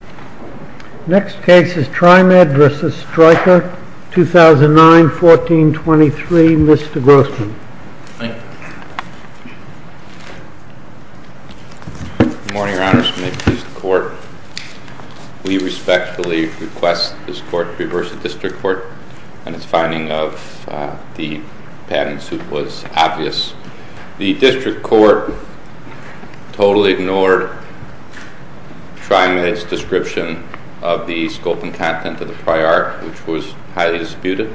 The next case is Trimed v. Stryker, 2009, 1423. Mr. Grossman. Thank you. Good morning, Your Honors. May it please the Court. We respectfully request this Court to reverse the District Court and its finding of the patent suit was obvious. The District Court totally ignored Trimed's description of the scope and content of the prior art, which was highly disputed.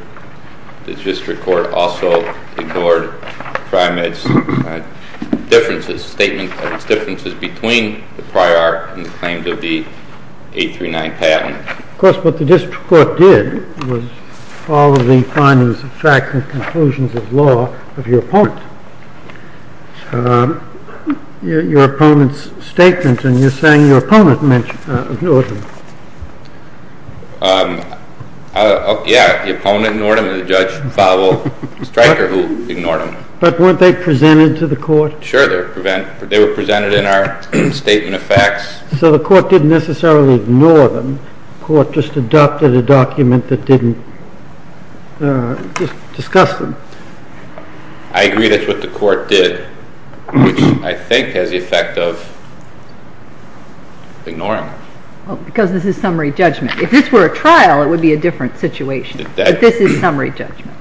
The District Court also ignored Trimed's statement of its differences between the prior art and the claims of the 839 patent. Of course, what the District Court did was follow the findings of fact and conclusions of law of your opponent. Your opponent's statement, and you're saying your opponent ignored him. Yeah, the opponent ignored him, and the judge followed Stryker, who ignored him. But weren't they presented to the Court? Sure, they were presented in our statement of facts. So the Court didn't necessarily ignore them. The Court just adopted a document that didn't discuss them. I agree that's what the Court did, which I think has the effect of ignoring them. Because this is summary judgment. If this were a trial, it would be a different situation. But this is summary judgment.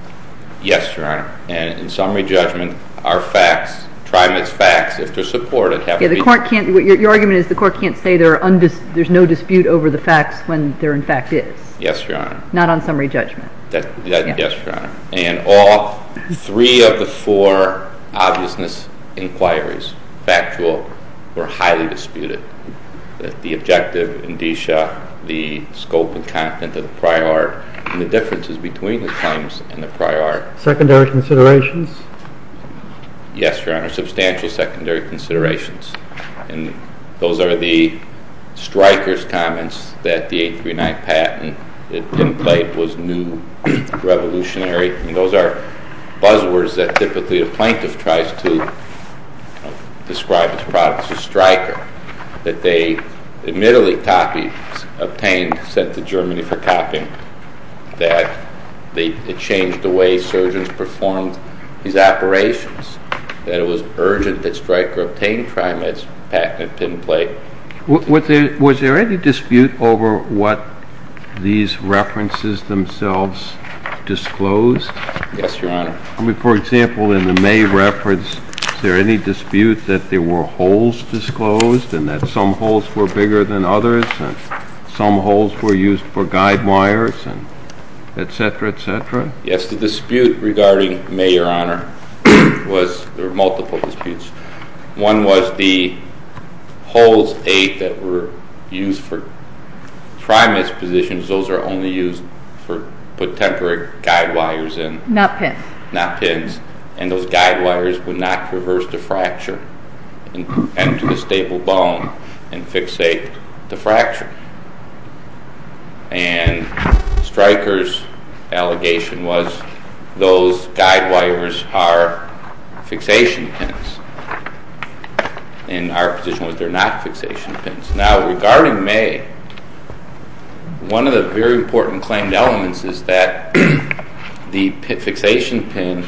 Yes, Your Honor. In summary judgment, our facts, Trimed's facts, if they're supported, have to be— Your argument is the Court can't say there's no dispute over the facts when there, in fact, is. Yes, Your Honor. Not on summary judgment. Yes, Your Honor. And all three of the four obviousness inquiries, factual, were highly disputed. The objective, indicia, the scope and content of the prior art, and the differences between the claims and the prior art. Secondary considerations? Yes, Your Honor. Substantial secondary considerations. And those are the striker's comments that the 839 patent that Tim played was new, revolutionary. And those are buzzwords that typically a plaintiff tries to describe as products of striker. That they admittedly copied, obtained, sent to Germany for copying. That it changed the way surgeons performed these operations. That it was urgent that striker obtain Trimed's patent that Tim played. Was there any dispute over what these references themselves disclosed? Yes, Your Honor. I mean, for example, in the May reference, is there any dispute that there were holes disclosed, and that some holes were bigger than others, and some holes were used for guide wires, etc., etc.? Yes, the dispute regarding May, Your Honor, was, there were multiple disputes. One was the holes 8 that were used for Trimed's positions, those are only used for, put temporary guide wires in. Not pins. Not pins. And those guide wires would not reverse the fracture into the stable bone and fixate the fracture. And striker's allegation was those guide wires are fixation pins. And our position was they're not fixation pins. Now, regarding May, one of the very important claimed elements is that the fixation pin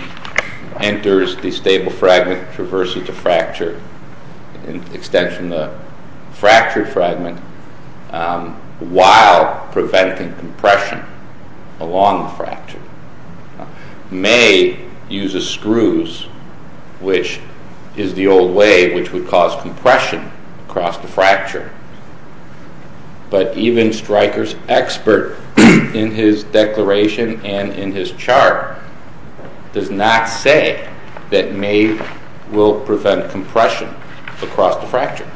enters the stable fragment traversing the fracture, extension of the fractured fragment, while preventing compression along the fracture. May uses screws, which is the old way, which would cause compression across the fracture. But even striker's expert in his declaration and in his chart does not say that May will prevent compression across the fracture.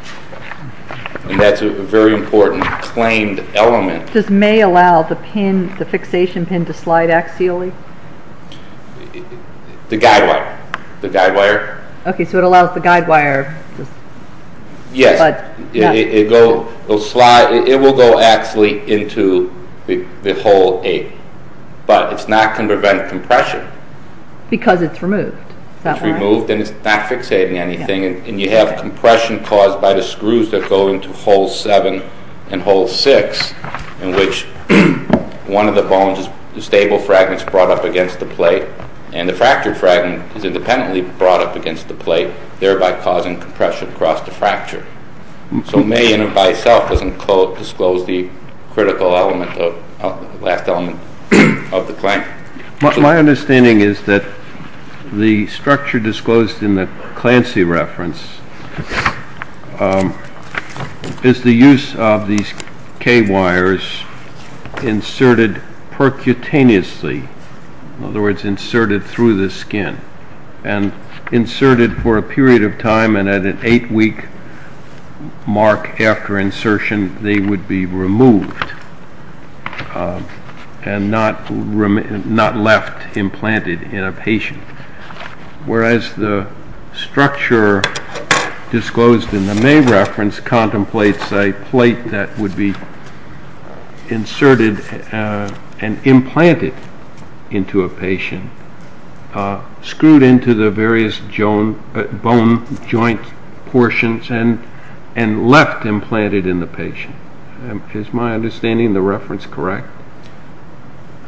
And that's a very important claimed element. Does May allow the pin, the fixation pin to slide axially? The guide wire. The guide wire. Okay, so it allows the guide wire. Yes, it will go axially into the hole 8, but it's not going to prevent compression. Because it's removed. It's removed and it's not fixating anything. And you have compression caused by the screws that go into hole 7 and hole 6, in which one of the bones, the stable fragment, is brought up against the plate. And the fractured fragment is independently brought up against the plate, thereby causing compression across the fracture. So May, in and by itself, doesn't disclose the critical element, the last element of the claim. My understanding is that the structure disclosed in the Clancy reference is the use of these K wires inserted percutaneously. In other words, inserted through the skin. And inserted for a period of time and at an 8-week mark after insertion, they would be removed. And not left implanted in a patient. Whereas the structure disclosed in the May reference contemplates a plate that would be inserted and implanted into a patient, screwed into the various bone joint portions and left implanted in the patient. Is my understanding of the reference correct?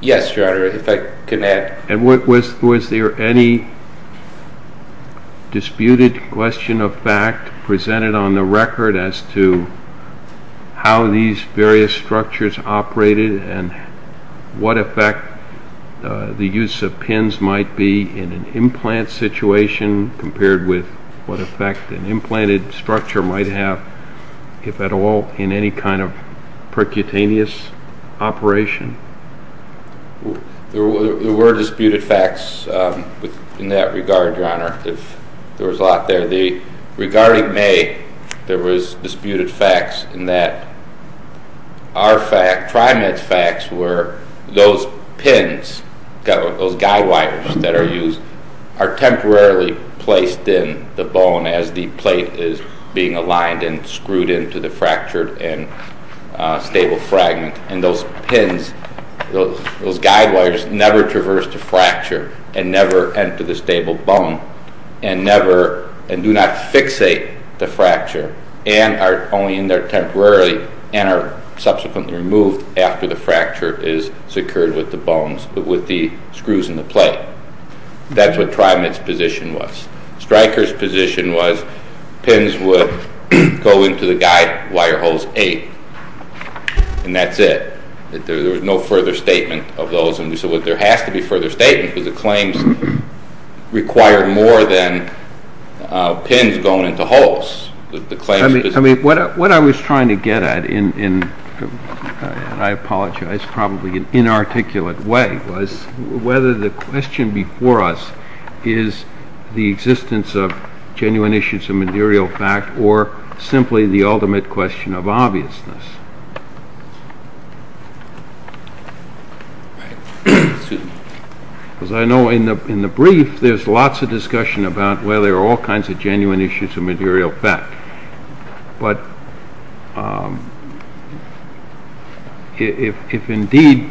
Yes, Your Honor, if I can add. And was there any disputed question of fact presented on the record as to how these various structures operated and what effect the use of pins might be in an implant situation compared with what effect an implanted structure might have, if at all, in any kind of percutaneous operation? There were disputed facts in that regard, Your Honor. There was a lot there. the bone as the plate is being aligned and screwed into the fractured and stable fragment. And those pins, those guide wires never traverse the fracture and never enter the stable bone and do not fixate the fracture and are only in there temporarily and are subsequently removed after the fracture is secured with the bones, with the screws in the plate. That's what TriMet's position was. Stryker's position was pins would go into the guide wire holes eight, and that's it. There was no further statement of those. And so there has to be further statement because the claims required more than pins going into holes. What I was trying to get at, and I apologize probably in an inarticulate way, was whether the question before us is the existence of genuine issues of material fact or simply the ultimate question of obviousness. Because I know in the brief there's lots of discussion about, well, there are all kinds of genuine issues of material fact. But if indeed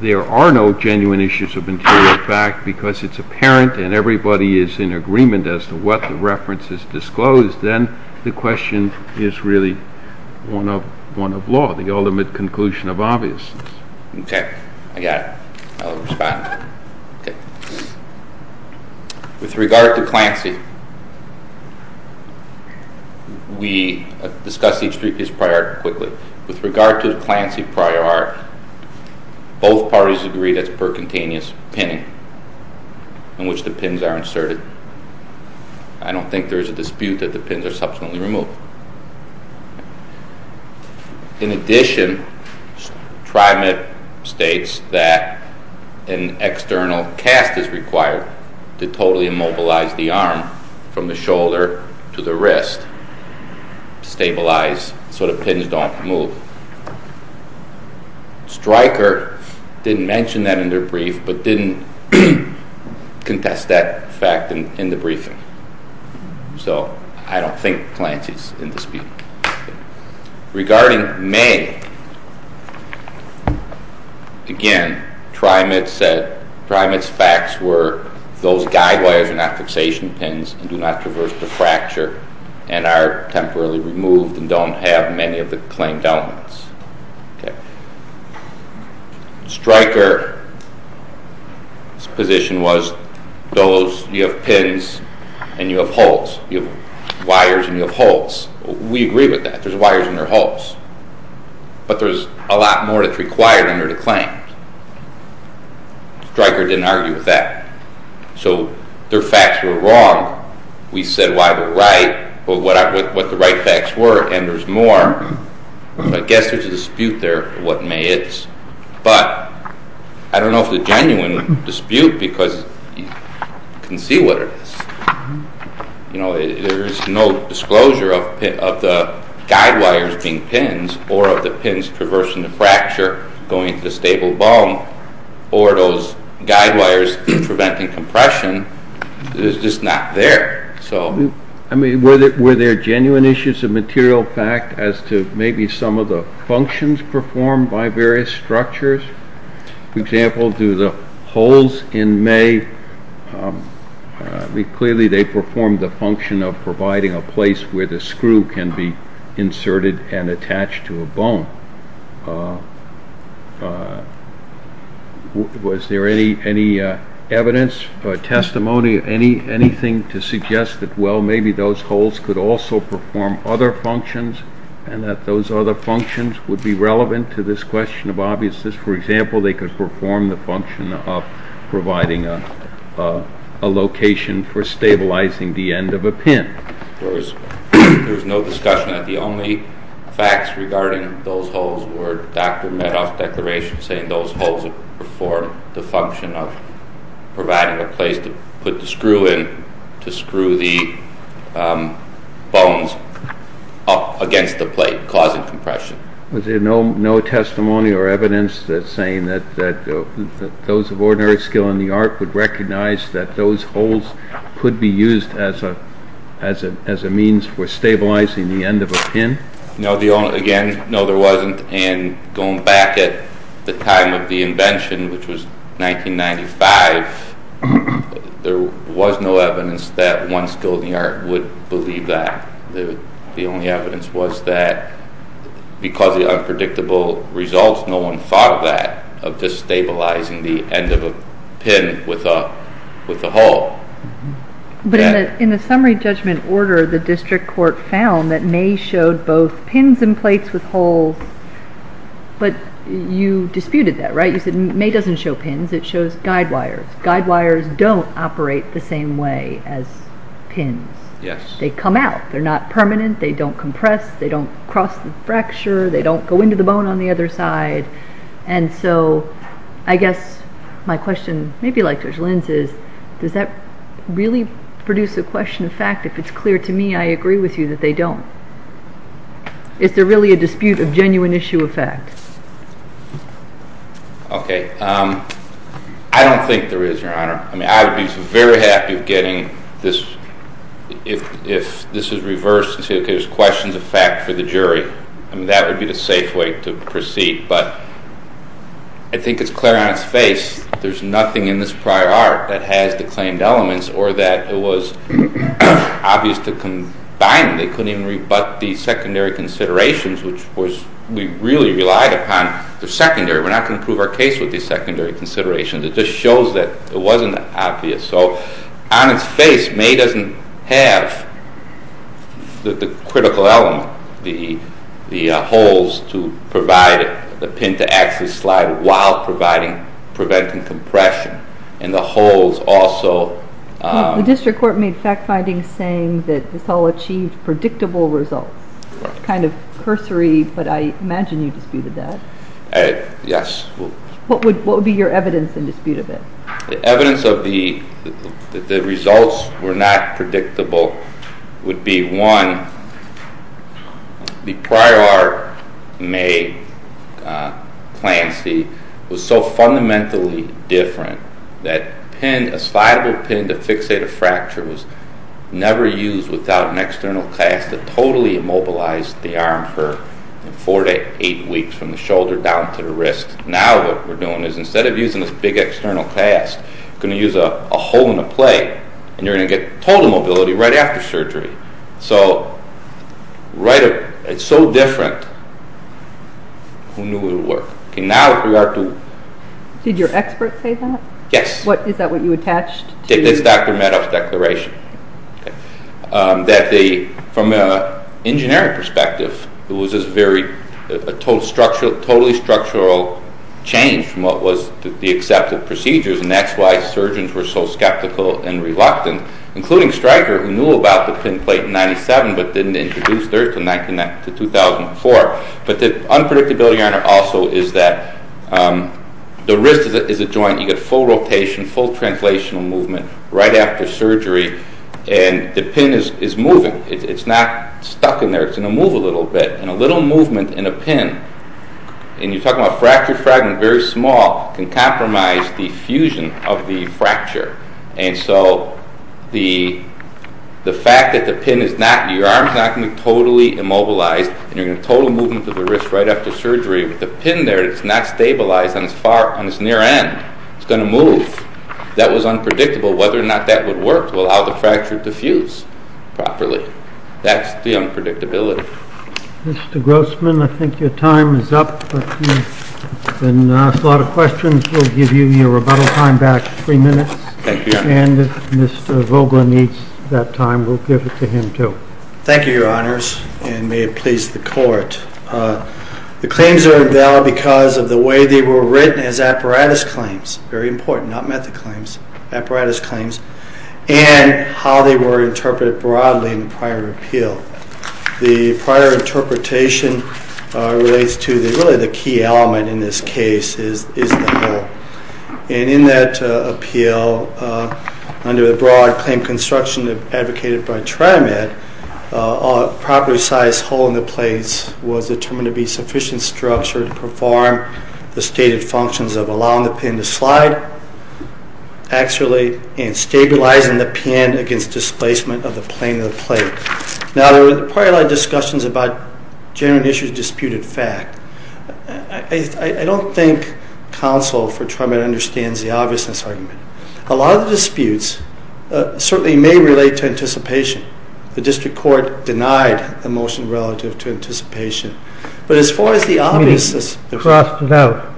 there are no genuine issues of material fact because it's apparent and everybody is in agreement as to what the reference is disclosed, then the question is really one of law, the ultimate conclusion of obviousness. Okay, I got it. I'll respond. Okay. With regard to Clancy, we discussed each three-piece prior art quickly. With regard to Clancy prior art, both parties agreed it's percutaneous pinning in which the pins are inserted. I don't think there's a dispute that the pins are subsequently removed. In addition, TriMet states that an external cast is required to totally immobilize the arm from the shoulder to the wrist, stabilize so the pins don't move. Stryker didn't mention that in their brief but didn't contest that fact in the briefing. So I don't think Clancy is in dispute. Regarding May, again, TriMet's facts were those guide wires are not fixation pins and do not traverse the fracture and are temporarily removed and don't have many of the claimed elements. Okay. Stryker's position was you have pins and you have holes. You have wires and you have holes. We agree with that. There's wires and there are holes. But there's a lot more that's required under the claim. Stryker didn't argue with that. So their facts were wrong. We said why they're right, what the right facts were, and there's more. I guess there's a dispute there of what May is. But I don't know if the genuine dispute because you can see what it is. There's no disclosure of the guide wires being pins or of the pins traversing the fracture going into the stable bone or those guide wires preventing compression. It's just not there. Were there genuine issues of material fact as to maybe some of the functions performed by various structures? For example, do the holes in May, clearly they performed the function of providing a place where the screw can be inserted and attached to a bone. Was there any evidence or testimony, anything to suggest that, well, maybe those holes could also perform other functions and that those other functions would be relevant to this question of obviousness? For example, they could perform the function of providing a location for stabilizing the end of a pin. There was no discussion that the only facts regarding those holes were Dr. Medoff's declaration saying those holes would perform the function of providing a place to put the screw in to screw the bones up against the plate, causing compression. Was there no testimony or evidence that's saying that those of ordinary skill in the art would recognize that those holes could be used as a means for stabilizing the end of a pin? Again, no, there wasn't. Going back at the time of the invention, which was 1995, there was no evidence that one skill in the art would believe that. The only evidence was that because of the unpredictable results, no one thought that of destabilizing the end of a pin with a hole. In the summary judgment order, the district court found that May showed both pins and plates with holes, but you disputed that, right? You said May doesn't show pins, it shows guide wires. Guide wires don't operate the same way as pins. Yes. They come out. They're not permanent. They don't compress. They don't cross the fracture. They don't go into the bone on the other side. And so I guess my question, maybe like Judge Lin's, is does that really produce a question of fact? If it's clear to me, I agree with you that they don't. Is there really a dispute of genuine issue of fact? Okay. I don't think there is, Your Honor. I would be very happy of getting this if this is reversed and say, okay, there's questions of fact for the jury. That would be the safe way to proceed. But I think it's clear on its face there's nothing in this prior art that has the claimed elements or that it was obvious to combine. They couldn't even rebut the secondary considerations, which we really relied upon. They're secondary. We're not going to prove our case with these secondary considerations. It just shows that it wasn't obvious. So on its face, May doesn't have the critical element, the holes to provide it, the pin to actually slide it while preventing compression and the holes also. The district court made fact findings saying that this all achieved predictable results, kind of cursory, but I imagine you disputed that. Yes. What would be your evidence in dispute of it? The evidence that the results were not predictable would be, one, the prior art, May claims, was so fundamentally different that a slideable pin to fixate a fracture was never used without an external cast that totally immobilized the arm for four to eight weeks from the shoulder down to the wrist. Now what we're doing is instead of using this big external cast, we're going to use a hole in the plate and you're going to get total mobility right after surgery. So it's so different, who knew it would work? Now with regard to... Did your expert say that? Yes. Is that what you attached to... It's Dr. Madoff's declaration. From an engineering perspective, it was this totally structural change from what was the accepted procedures, and that's why surgeons were so skeptical and reluctant, including Stryker, who knew about the pin plate in 1997 but didn't introduce it until 2004. But the unpredictability on it also is that the wrist is a joint. You get full rotation, full translational movement right after surgery, and the pin is moving. It's not stuck in there. It's going to move a little bit, and a little movement in a pin, and you're talking about fracture fragment, very small, can compromise the fusion of the fracture. And so the fact that the pin is not... Your arm is not going to be totally immobilized, and you're going to have total movement of the wrist right after surgery, but the pin there is not stabilized on its near end. It's going to move. That was unpredictable, whether or not that would work to allow the fracture to fuse properly. That's the unpredictability. Mr. Grossman, I think your time is up. You've been asked a lot of questions. We'll give you your rebuttal time back, 3 minutes. Thank you, Your Honor. And if Mr. Vogler needs that time, we'll give it to him too. Thank you, Your Honors, and may it please the Court. The claims are invalid because of the way they were written as apparatus claims. Very important, not method claims, apparatus claims. And how they were interpreted broadly in the prior appeal. The prior interpretation relates to really the key element in this case is the hole. And in that appeal, under the broad claim construction advocated by TriMet, a properly sized hole in the plates was determined to be sufficient structure to perform the stated functions of allowing the pin to slide axially and stabilizing the pin against displacement of the plane of the plate. Now, there were prior discussions about general issues disputed fact. I don't think counsel for TriMet understands the obviousness argument. A lot of the disputes certainly may relate to anticipation. The district court denied the motion relative to anticipation. But as far as the obviousness... He crossed it out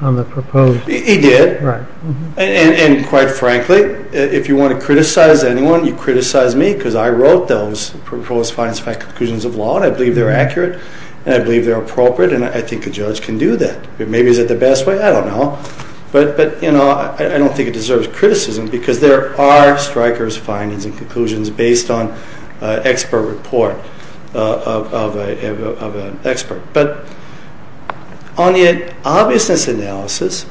on the proposed... He did. Right. And quite frankly, if you want to criticize anyone, you criticize me because I wrote those proposed findings and conclusions of law and I believe they're accurate and I believe they're appropriate and I think a judge can do that. Maybe is it the best way? I don't know. But, you know, I don't think it deserves criticism because there are strikers' findings and conclusions based on expert report of an expert. But on the obviousness analysis,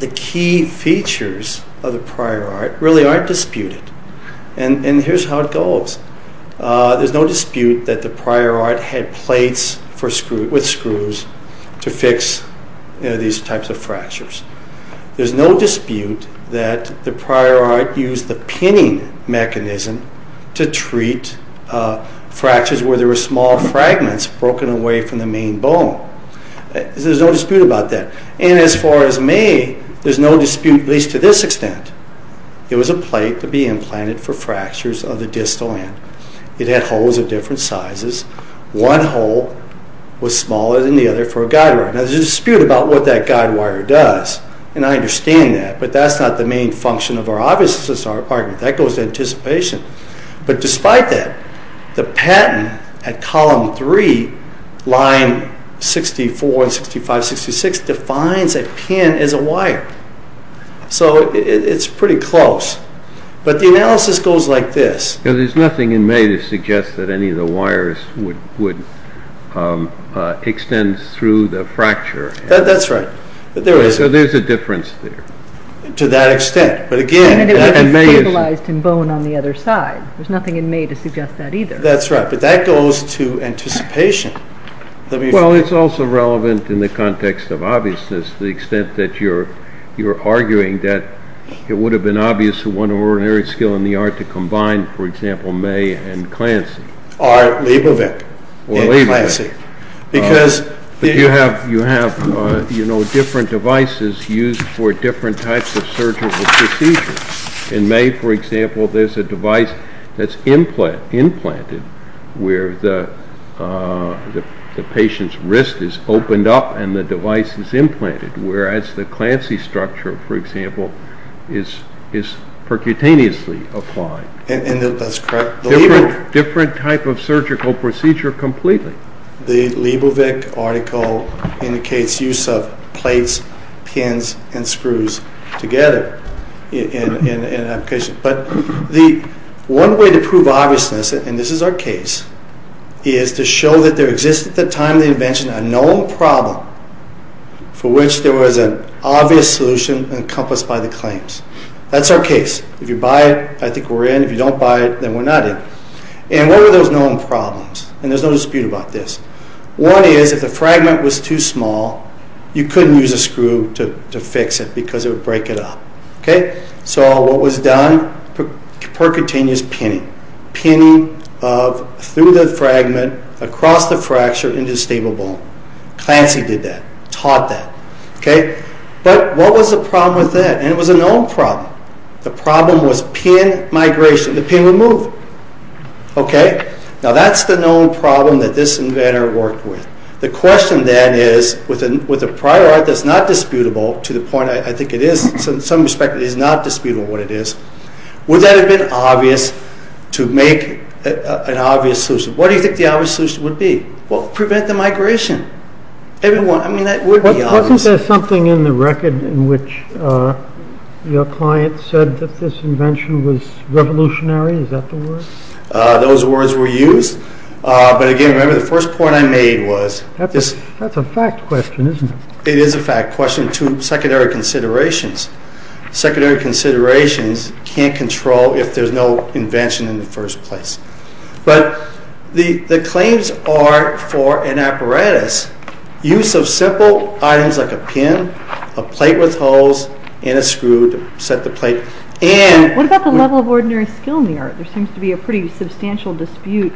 the key features of the prior art really aren't disputed. And here's how it goes. There's no dispute that the prior art had plates with screws to fix these types of fractures. There's no dispute that the prior art used the pinning mechanism to treat fractures where there were small fragments broken away from the main bone. There's no dispute about that. And as far as me, there's no dispute, at least to this extent. It was a plate to be implanted for fractures of the distal end. It had holes of different sizes. One hole was smaller than the other for a guide wire. Now there's a dispute about what that guide wire does, and I understand that, but that's not the main function of our obviousness argument. That goes to anticipation. But despite that, the patent at column 3, line 64, 65, 66, defines a pin as a wire. So it's pretty close. But the analysis goes like this. There's nothing in May to suggest that any of the wires would extend through the fracture. That's right. So there's a difference there. To that extent. And it would be stabilized in bone on the other side. There's nothing in May to suggest that either. That's right, but that goes to anticipation. Well, it's also relevant in the context of obviousness to the extent that you're arguing that it would have been obvious that one ordinary skill in the art to combine, for example, May and Clancy. Well, you have different devices used for different types of surgical procedures. In May, for example, there's a device that's implanted where the patient's wrist is opened up and the device is implanted, whereas the Clancy structure, for example, is percutaneously applied. That's correct. Different type of surgical procedure completely. The Lebovic article indicates use of plates, pins, and screws together. But one way to prove obviousness, and this is our case, is to show that there exists at the time of the invention a known problem for which there was an obvious solution encompassed by the claims. That's our case. If you buy it, I think we're in. If you don't buy it, then we're not in. And what were those known problems? And there's no dispute about this. One is if the fragment was too small, you couldn't use a screw to fix it because it would break it up. So what was done? Percutaneous pinning. Pinning through the fragment, across the fracture, into the stable bone. Clancy did that, taught that. But what was the problem with that? And it was a known problem. The problem was pin migration. The pin would move. Okay? Now that's the known problem that this inventor worked with. The question, then, is with a prior art that's not disputable to the point I think it is, in some respect, it is not disputable what it is, would that have been obvious to make an obvious solution? What do you think the obvious solution would be? Well, prevent the migration. I mean, that would be obvious. Wasn't there something in the record in which your client said that this invention was revolutionary? Is that the word? Those words were used. But, again, remember the first point I made was this. That's a fact question, isn't it? It is a fact question to secondary considerations. Secondary considerations can't control if there's no invention in the first place. But the claims are for an apparatus. Use of simple items like a pin, a plate with holes, and a screw to set the plate. What about the level of ordinary skill in the art? There seems to be a pretty substantial dispute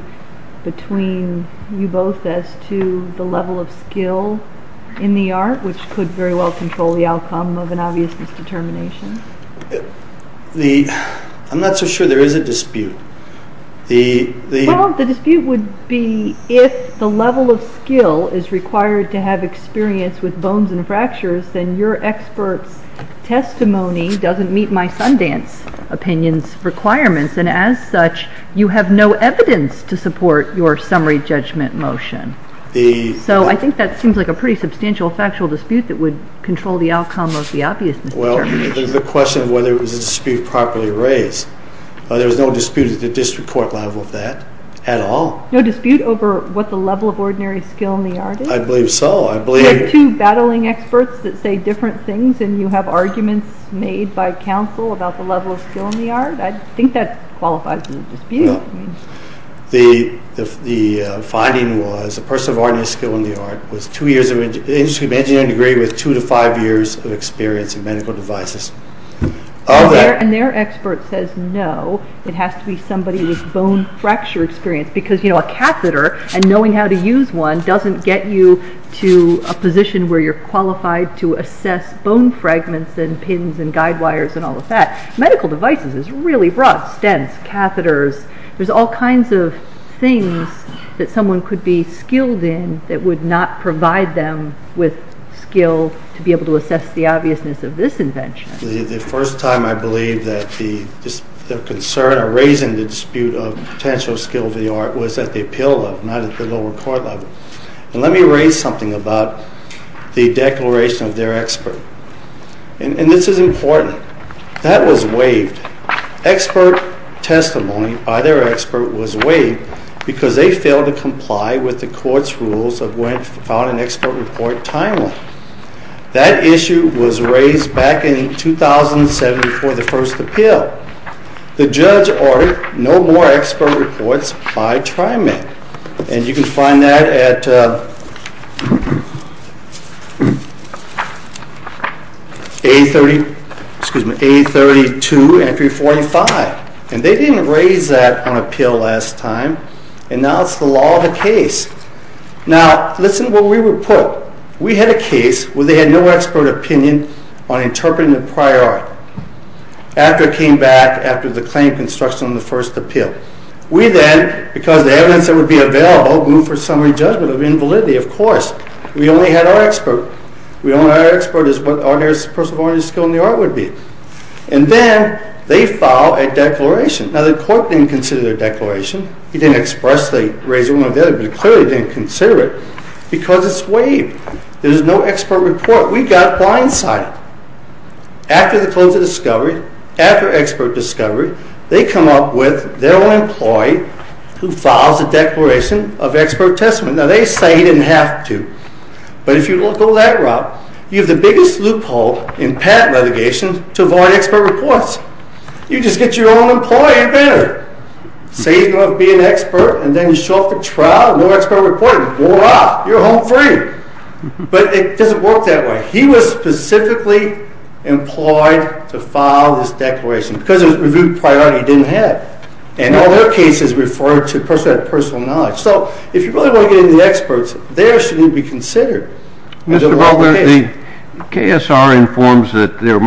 between you both as to the level of skill in the art, which could very well control the outcome of an obvious misdetermination. I'm not so sure there is a dispute. Well, the dispute would be if the level of skill is required to have experience with bones and fractures, then your expert's testimony doesn't meet my Sundance opinion's requirements. And, as such, you have no evidence to support your summary judgment motion. So I think that seems like a pretty substantial factual dispute that would control the outcome of the obvious misdetermination. Well, the question of whether it was a dispute properly raised. There was no dispute at the district court level of that at all. No dispute over what the level of ordinary skill in the art is? I believe so. Were there two battling experts that say different things and you have arguments made by counsel about the level of skill in the art? I think that qualifies as a dispute. No. The finding was a person of ordinary skill in the art had an engineering degree with two to five years of experience in medical devices. And their expert says no, it has to be somebody with bone fracture experience because, you know, a catheter and knowing how to use one doesn't get you to a position where you're qualified to assess bone fragments and pins and guide wires and all of that. Medical devices is really rough. Stents, catheters, there's all kinds of things that someone could be skilled in that would not provide them with skill to be able to assess the obviousness of this invention. The first time I believe that the concern or raising the dispute of potential skill of the art was at the appeal level, not at the lower court level. And let me raise something about the declaration of their expert. And this is important. That was waived. Expert testimony by their expert was waived because they failed to comply with the court's rules of when to file an expert report timely. That issue was raised back in 2007 before the first appeal. The judge ordered no more expert reports by TriMet. And you can find that at A32, entry 45. And they didn't raise that on appeal last time. And now it's the law of the case. Now, listen to where we were put. We had a case where they had no expert opinion on interpreting the prior art after it came back after the claim of construction on the first appeal. We then, because of the evidence that would be available, moved for summary judgment of invalidity, of course. We only had our expert. We only had our expert as what a person of ordinary skill in the art would be. And then they filed a declaration. Now, the court didn't consider their declaration. He didn't expressly raise one or the other, but it clearly didn't consider it because it's waived. There's no expert report. We got blindsided. After the close of discovery, after expert discovery, they come up with their own employee who files a declaration of expert testament. Now, they say he didn't have to. But if you go that route, you have the biggest loophole in patent relegation to avoid expert reports. You just get your own employee, you're better. Say you don't have to be an expert, and then you show up for trial, no expert report, and voila, you're home free. But it doesn't work that way. He was specifically employed to file this declaration because it was a reviewed prior art he didn't have. And all their cases referred to that personal knowledge. So if you really want to get into the experts, there shouldn't be considered. KSR informs that there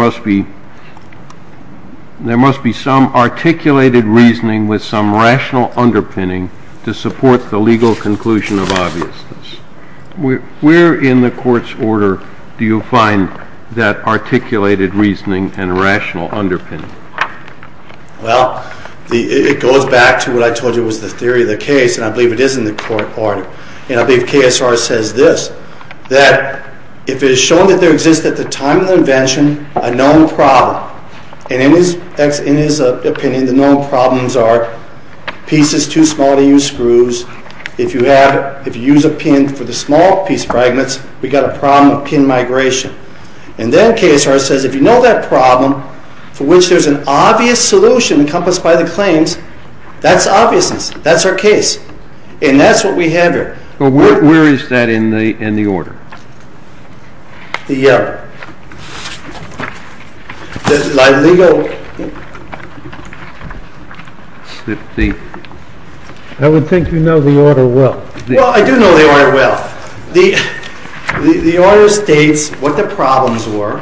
must be some articulated reasoning with some rational underpinning to support the legal conclusion of obviousness. Where in the court's order do you find that articulated reasoning and rational underpinning? Well, it goes back to what I told you was the theory of the case, and I believe it is in the court order. And I believe KSR says this, that if it is shown that there exists at the time of the invention a known problem, and in his opinion the known problems are pieces too small to use screws, if you use a pin for the small piece fragments, we've got a problem of pin migration. And then KSR says if you know that problem, for which there's an obvious solution encompassed by the claims, that's obviousness, that's our case. And that's what we have here. Where is that in the order? I would think you know the order well. Well, I do know the order well. The order states what the problems were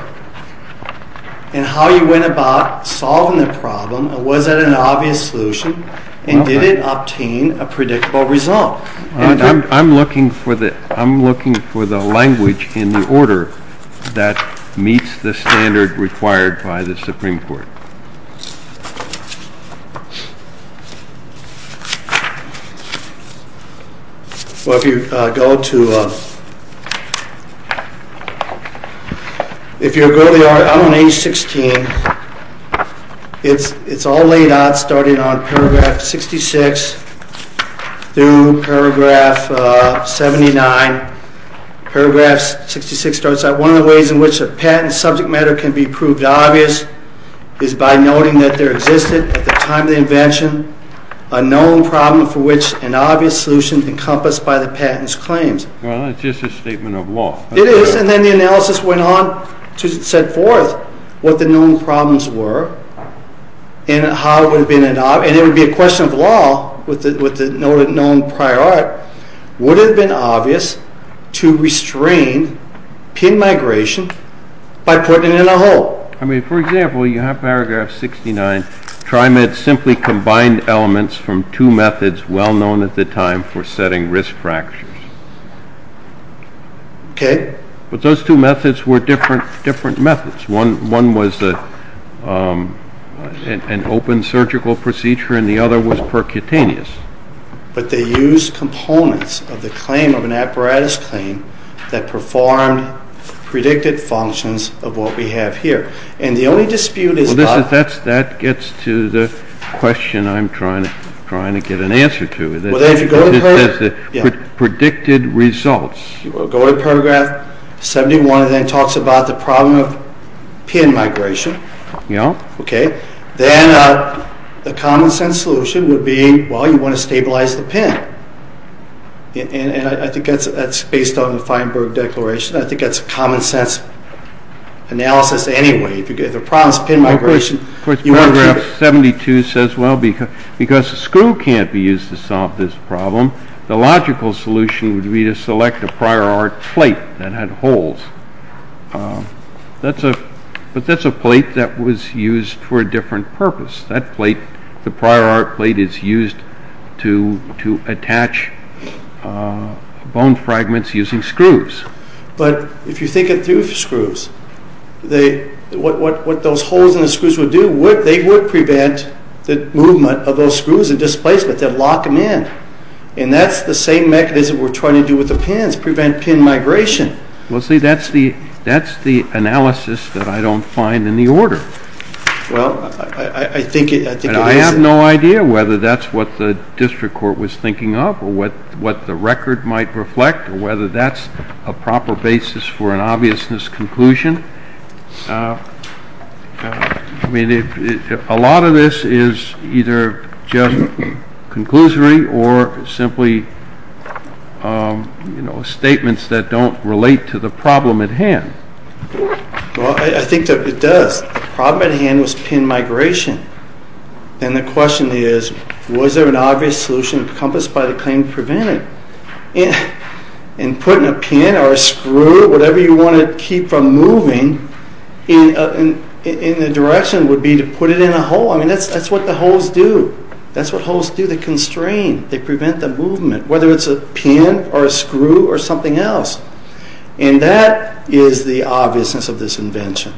and how you went about solving the problem. Was that an obvious solution? And did it obtain a predictable result? I'm looking for the language in the order that meets the standard required by the Supreme Court. Well, if you go to the order out on page 16, it's all laid out starting on paragraph 66 through paragraph 79. Paragraph 66 starts out, one of the ways in which a patent subject matter can be proved obvious is by noting that there existed at the time of the invention a known problem for which an obvious solution encompassed by the patent's claims. Well, it's just a statement of law. It is, and then the analysis went on to set forth what the known problems were and how it would have been an obvious, and it would be a question of law with the known prior art, would it have been obvious to restrain PIN migration by putting it in a hole? I mean, for example, you have paragraph 69. Trimed simply combined elements from two methods well known at the time for setting risk fractures. Okay. But those two methods were different methods. One was an open surgical procedure, and the other was percutaneous. But they used components of the claim of an apparatus claim that performed predicted functions of what we have here, and the only dispute is that— Well, that gets to the question I'm trying to get an answer to. Well, then if you go to paragraph— It's the predicted results. Go to paragraph 71, and then it talks about the problem of PIN migration. Yeah. Okay. Then the common-sense solution would be, well, you want to stabilize the PIN. And I think that's based on the Feinberg Declaration. I think that's common-sense analysis anyway. If the problem is PIN migration, you want to— Of course, paragraph 72 says, well, because a screw can't be used to solve this problem, the logical solution would be to select a prior art plate that had holes. But that's a plate that was used for a different purpose. That plate, the prior art plate, is used to attach bone fragments using screws. But if you think of two screws, what those holes in the screws would do, they would prevent the movement of those screws and displacement. But they'd lock them in. And that's the same mechanism we're trying to do with the PINs, prevent PIN migration. Well, see, that's the analysis that I don't find in the order. Well, I think it is. And I have no idea whether that's what the district court was thinking of or what the record might reflect or whether that's a proper basis for an obviousness conclusion. I mean, a lot of this is either just conclusory or simply, you know, statements that don't relate to the problem at hand. Well, I think that it does. The problem at hand was PIN migration. And the question is, was there an obvious solution encompassed by the claim to prevent it? And putting a PIN or a screw, whatever you want to keep from moving, in the direction would be to put it in a hole. I mean, that's what the holes do. That's what holes do. They constrain. They prevent the movement, whether it's a PIN or a screw or something else. And that is the obviousness of this invention.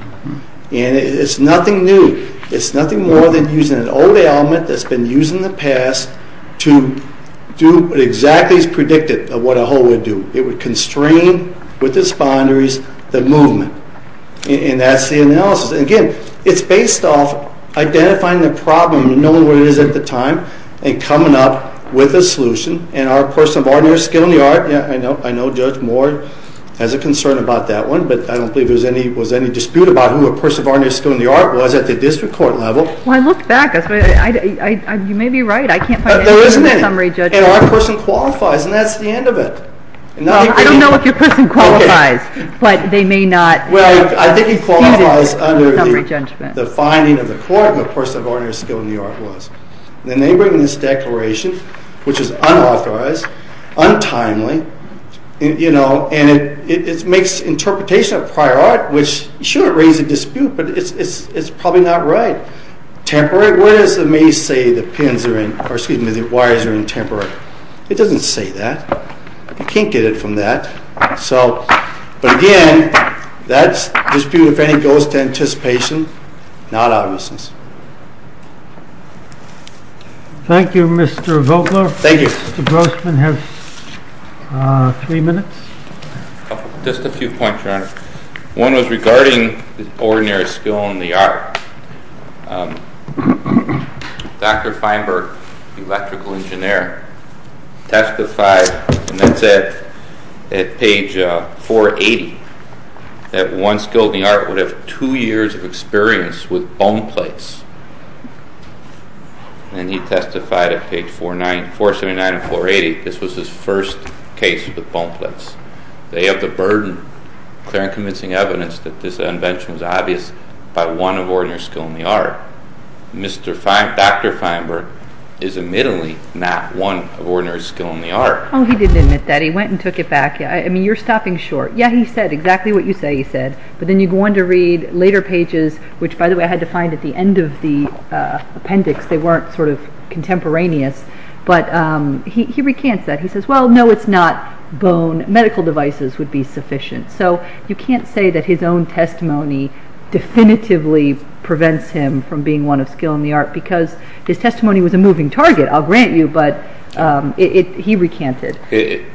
And it's nothing new. It's nothing more than using an old element that's been used in the past to do exactly as predicted what a hole would do. It would constrain, with its boundaries, the movement. And that's the analysis. Again, it's based off identifying the problem and knowing what it is at the time and coming up with a solution. And our person of ordinary skill in the art, I know Judge Moore has a concern about that one, but I don't believe there was any dispute about who a person of ordinary skill in the art was at the district court level. Well, I look back. You may be right. I can't find anything in the summary judgment. And our person qualifies, and that's the end of it. I don't know if your person qualifies, but they may not. Well, I think he qualifies under the finding of the court of what a person of ordinary skill in the art was. And they bring in this declaration, which is unauthorized, untimely, and it makes interpretation of prior art, which, sure, it raises a dispute, but it's probably not right. Temporary, where does it say the pins are in, or excuse me, the wires are in temporary? It doesn't say that. You can't get it from that. So, but again, that's dispute, if any, goes to anticipation, not obviousness. Thank you, Mr. Vogler. Thank you. Mr. Grossman has three minutes. Just a few points, Your Honor. One was regarding the ordinary skill in the art. Dr. Feinberg, electrical engineer, testified, and that's at page 480, that one skilled in the art would have two years of experience with bone plates. And he testified at page 479 and 480. This was his first case with bone plates. They have the burden, clear and convincing evidence, that this invention was obvious by one of ordinary skill in the art. Dr. Feinberg is admittedly not one of ordinary skill in the art. Oh, he didn't admit that. He went and took it back. I mean, you're stopping short. Yeah, he said exactly what you say he said, but then you go on to read later pages, which, by the way, I had to find at the end of the appendix. They weren't sort of contemporaneous, but he recants that. He says, well, no, it's not bone. Medical devices would be sufficient. So you can't say that his own testimony definitively prevents him from being one of skill in the art because his testimony was a moving target. I'll grant you, but he recanted.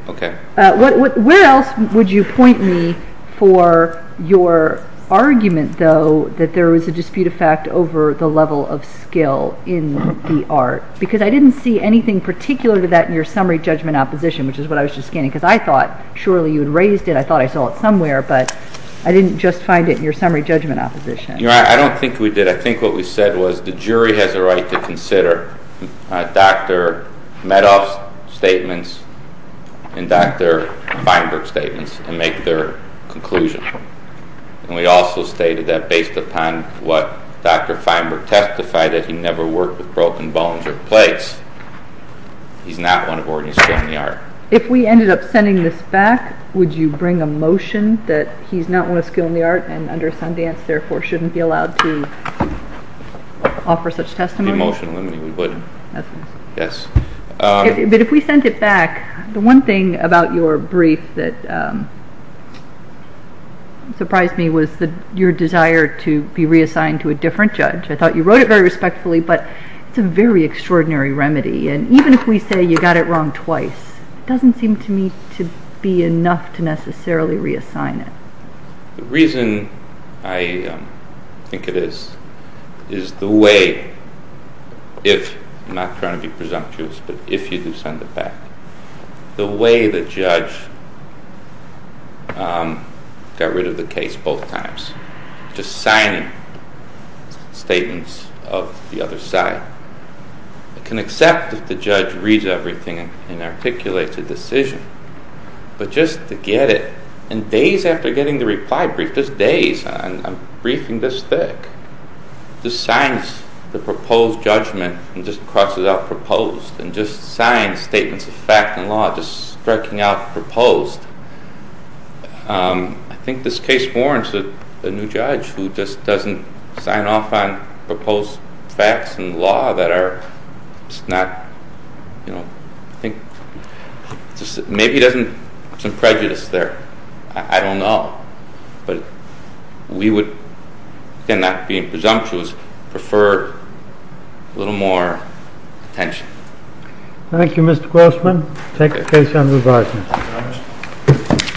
Okay. Where else would you point me for your argument, though, that there was a dispute of fact over the level of skill in the art? Because I didn't see anything particular to that in your summary judgment opposition, which is what I was just scanning, because I thought surely you had raised it. I thought I saw it somewhere, but I didn't just find it in your summary judgment opposition. I don't think we did. I think what we said was the jury has a right to consider Dr. Medoff's statements and Dr. Feinberg's statements and make their conclusion. And we also stated that based upon what Dr. Feinberg testified, that he never worked with broken bones or plates. He's not one of ordinary skill in the art. If we ended up sending this back, would you bring a motion that he's not one of skill in the art and under Sundance, therefore, shouldn't be allowed to offer such testimony? Emotionally, we would. Yes. But if we sent it back, the one thing about your brief that surprised me was your desire to be reassigned to a different judge. I thought you wrote it very respectfully, but it's a very extraordinary remedy. And even if we say you got it wrong twice, it doesn't seem to me to be enough to necessarily reassign it. The reason I think it is is the way if, I'm not trying to be presumptuous, but if you do send it back, the way the judge got rid of the case both times, just signing statements of the other side. I can accept if the judge reads everything and articulates a decision, but just to get it, and days after getting the reply brief, just days, I'm briefing this thick. Just signs the proposed judgment and just crosses out proposed and just signs statements of fact and law, just striking out proposed. I think this case warrants a new judge who just doesn't sign off on proposed facts and law that are just not, you know, I think maybe there's some prejudice there. I don't know. But we would, again, not being presumptuous, prefer a little more attention. Thank you, Mr. Grossman. Thank you. Thank you. Thank you.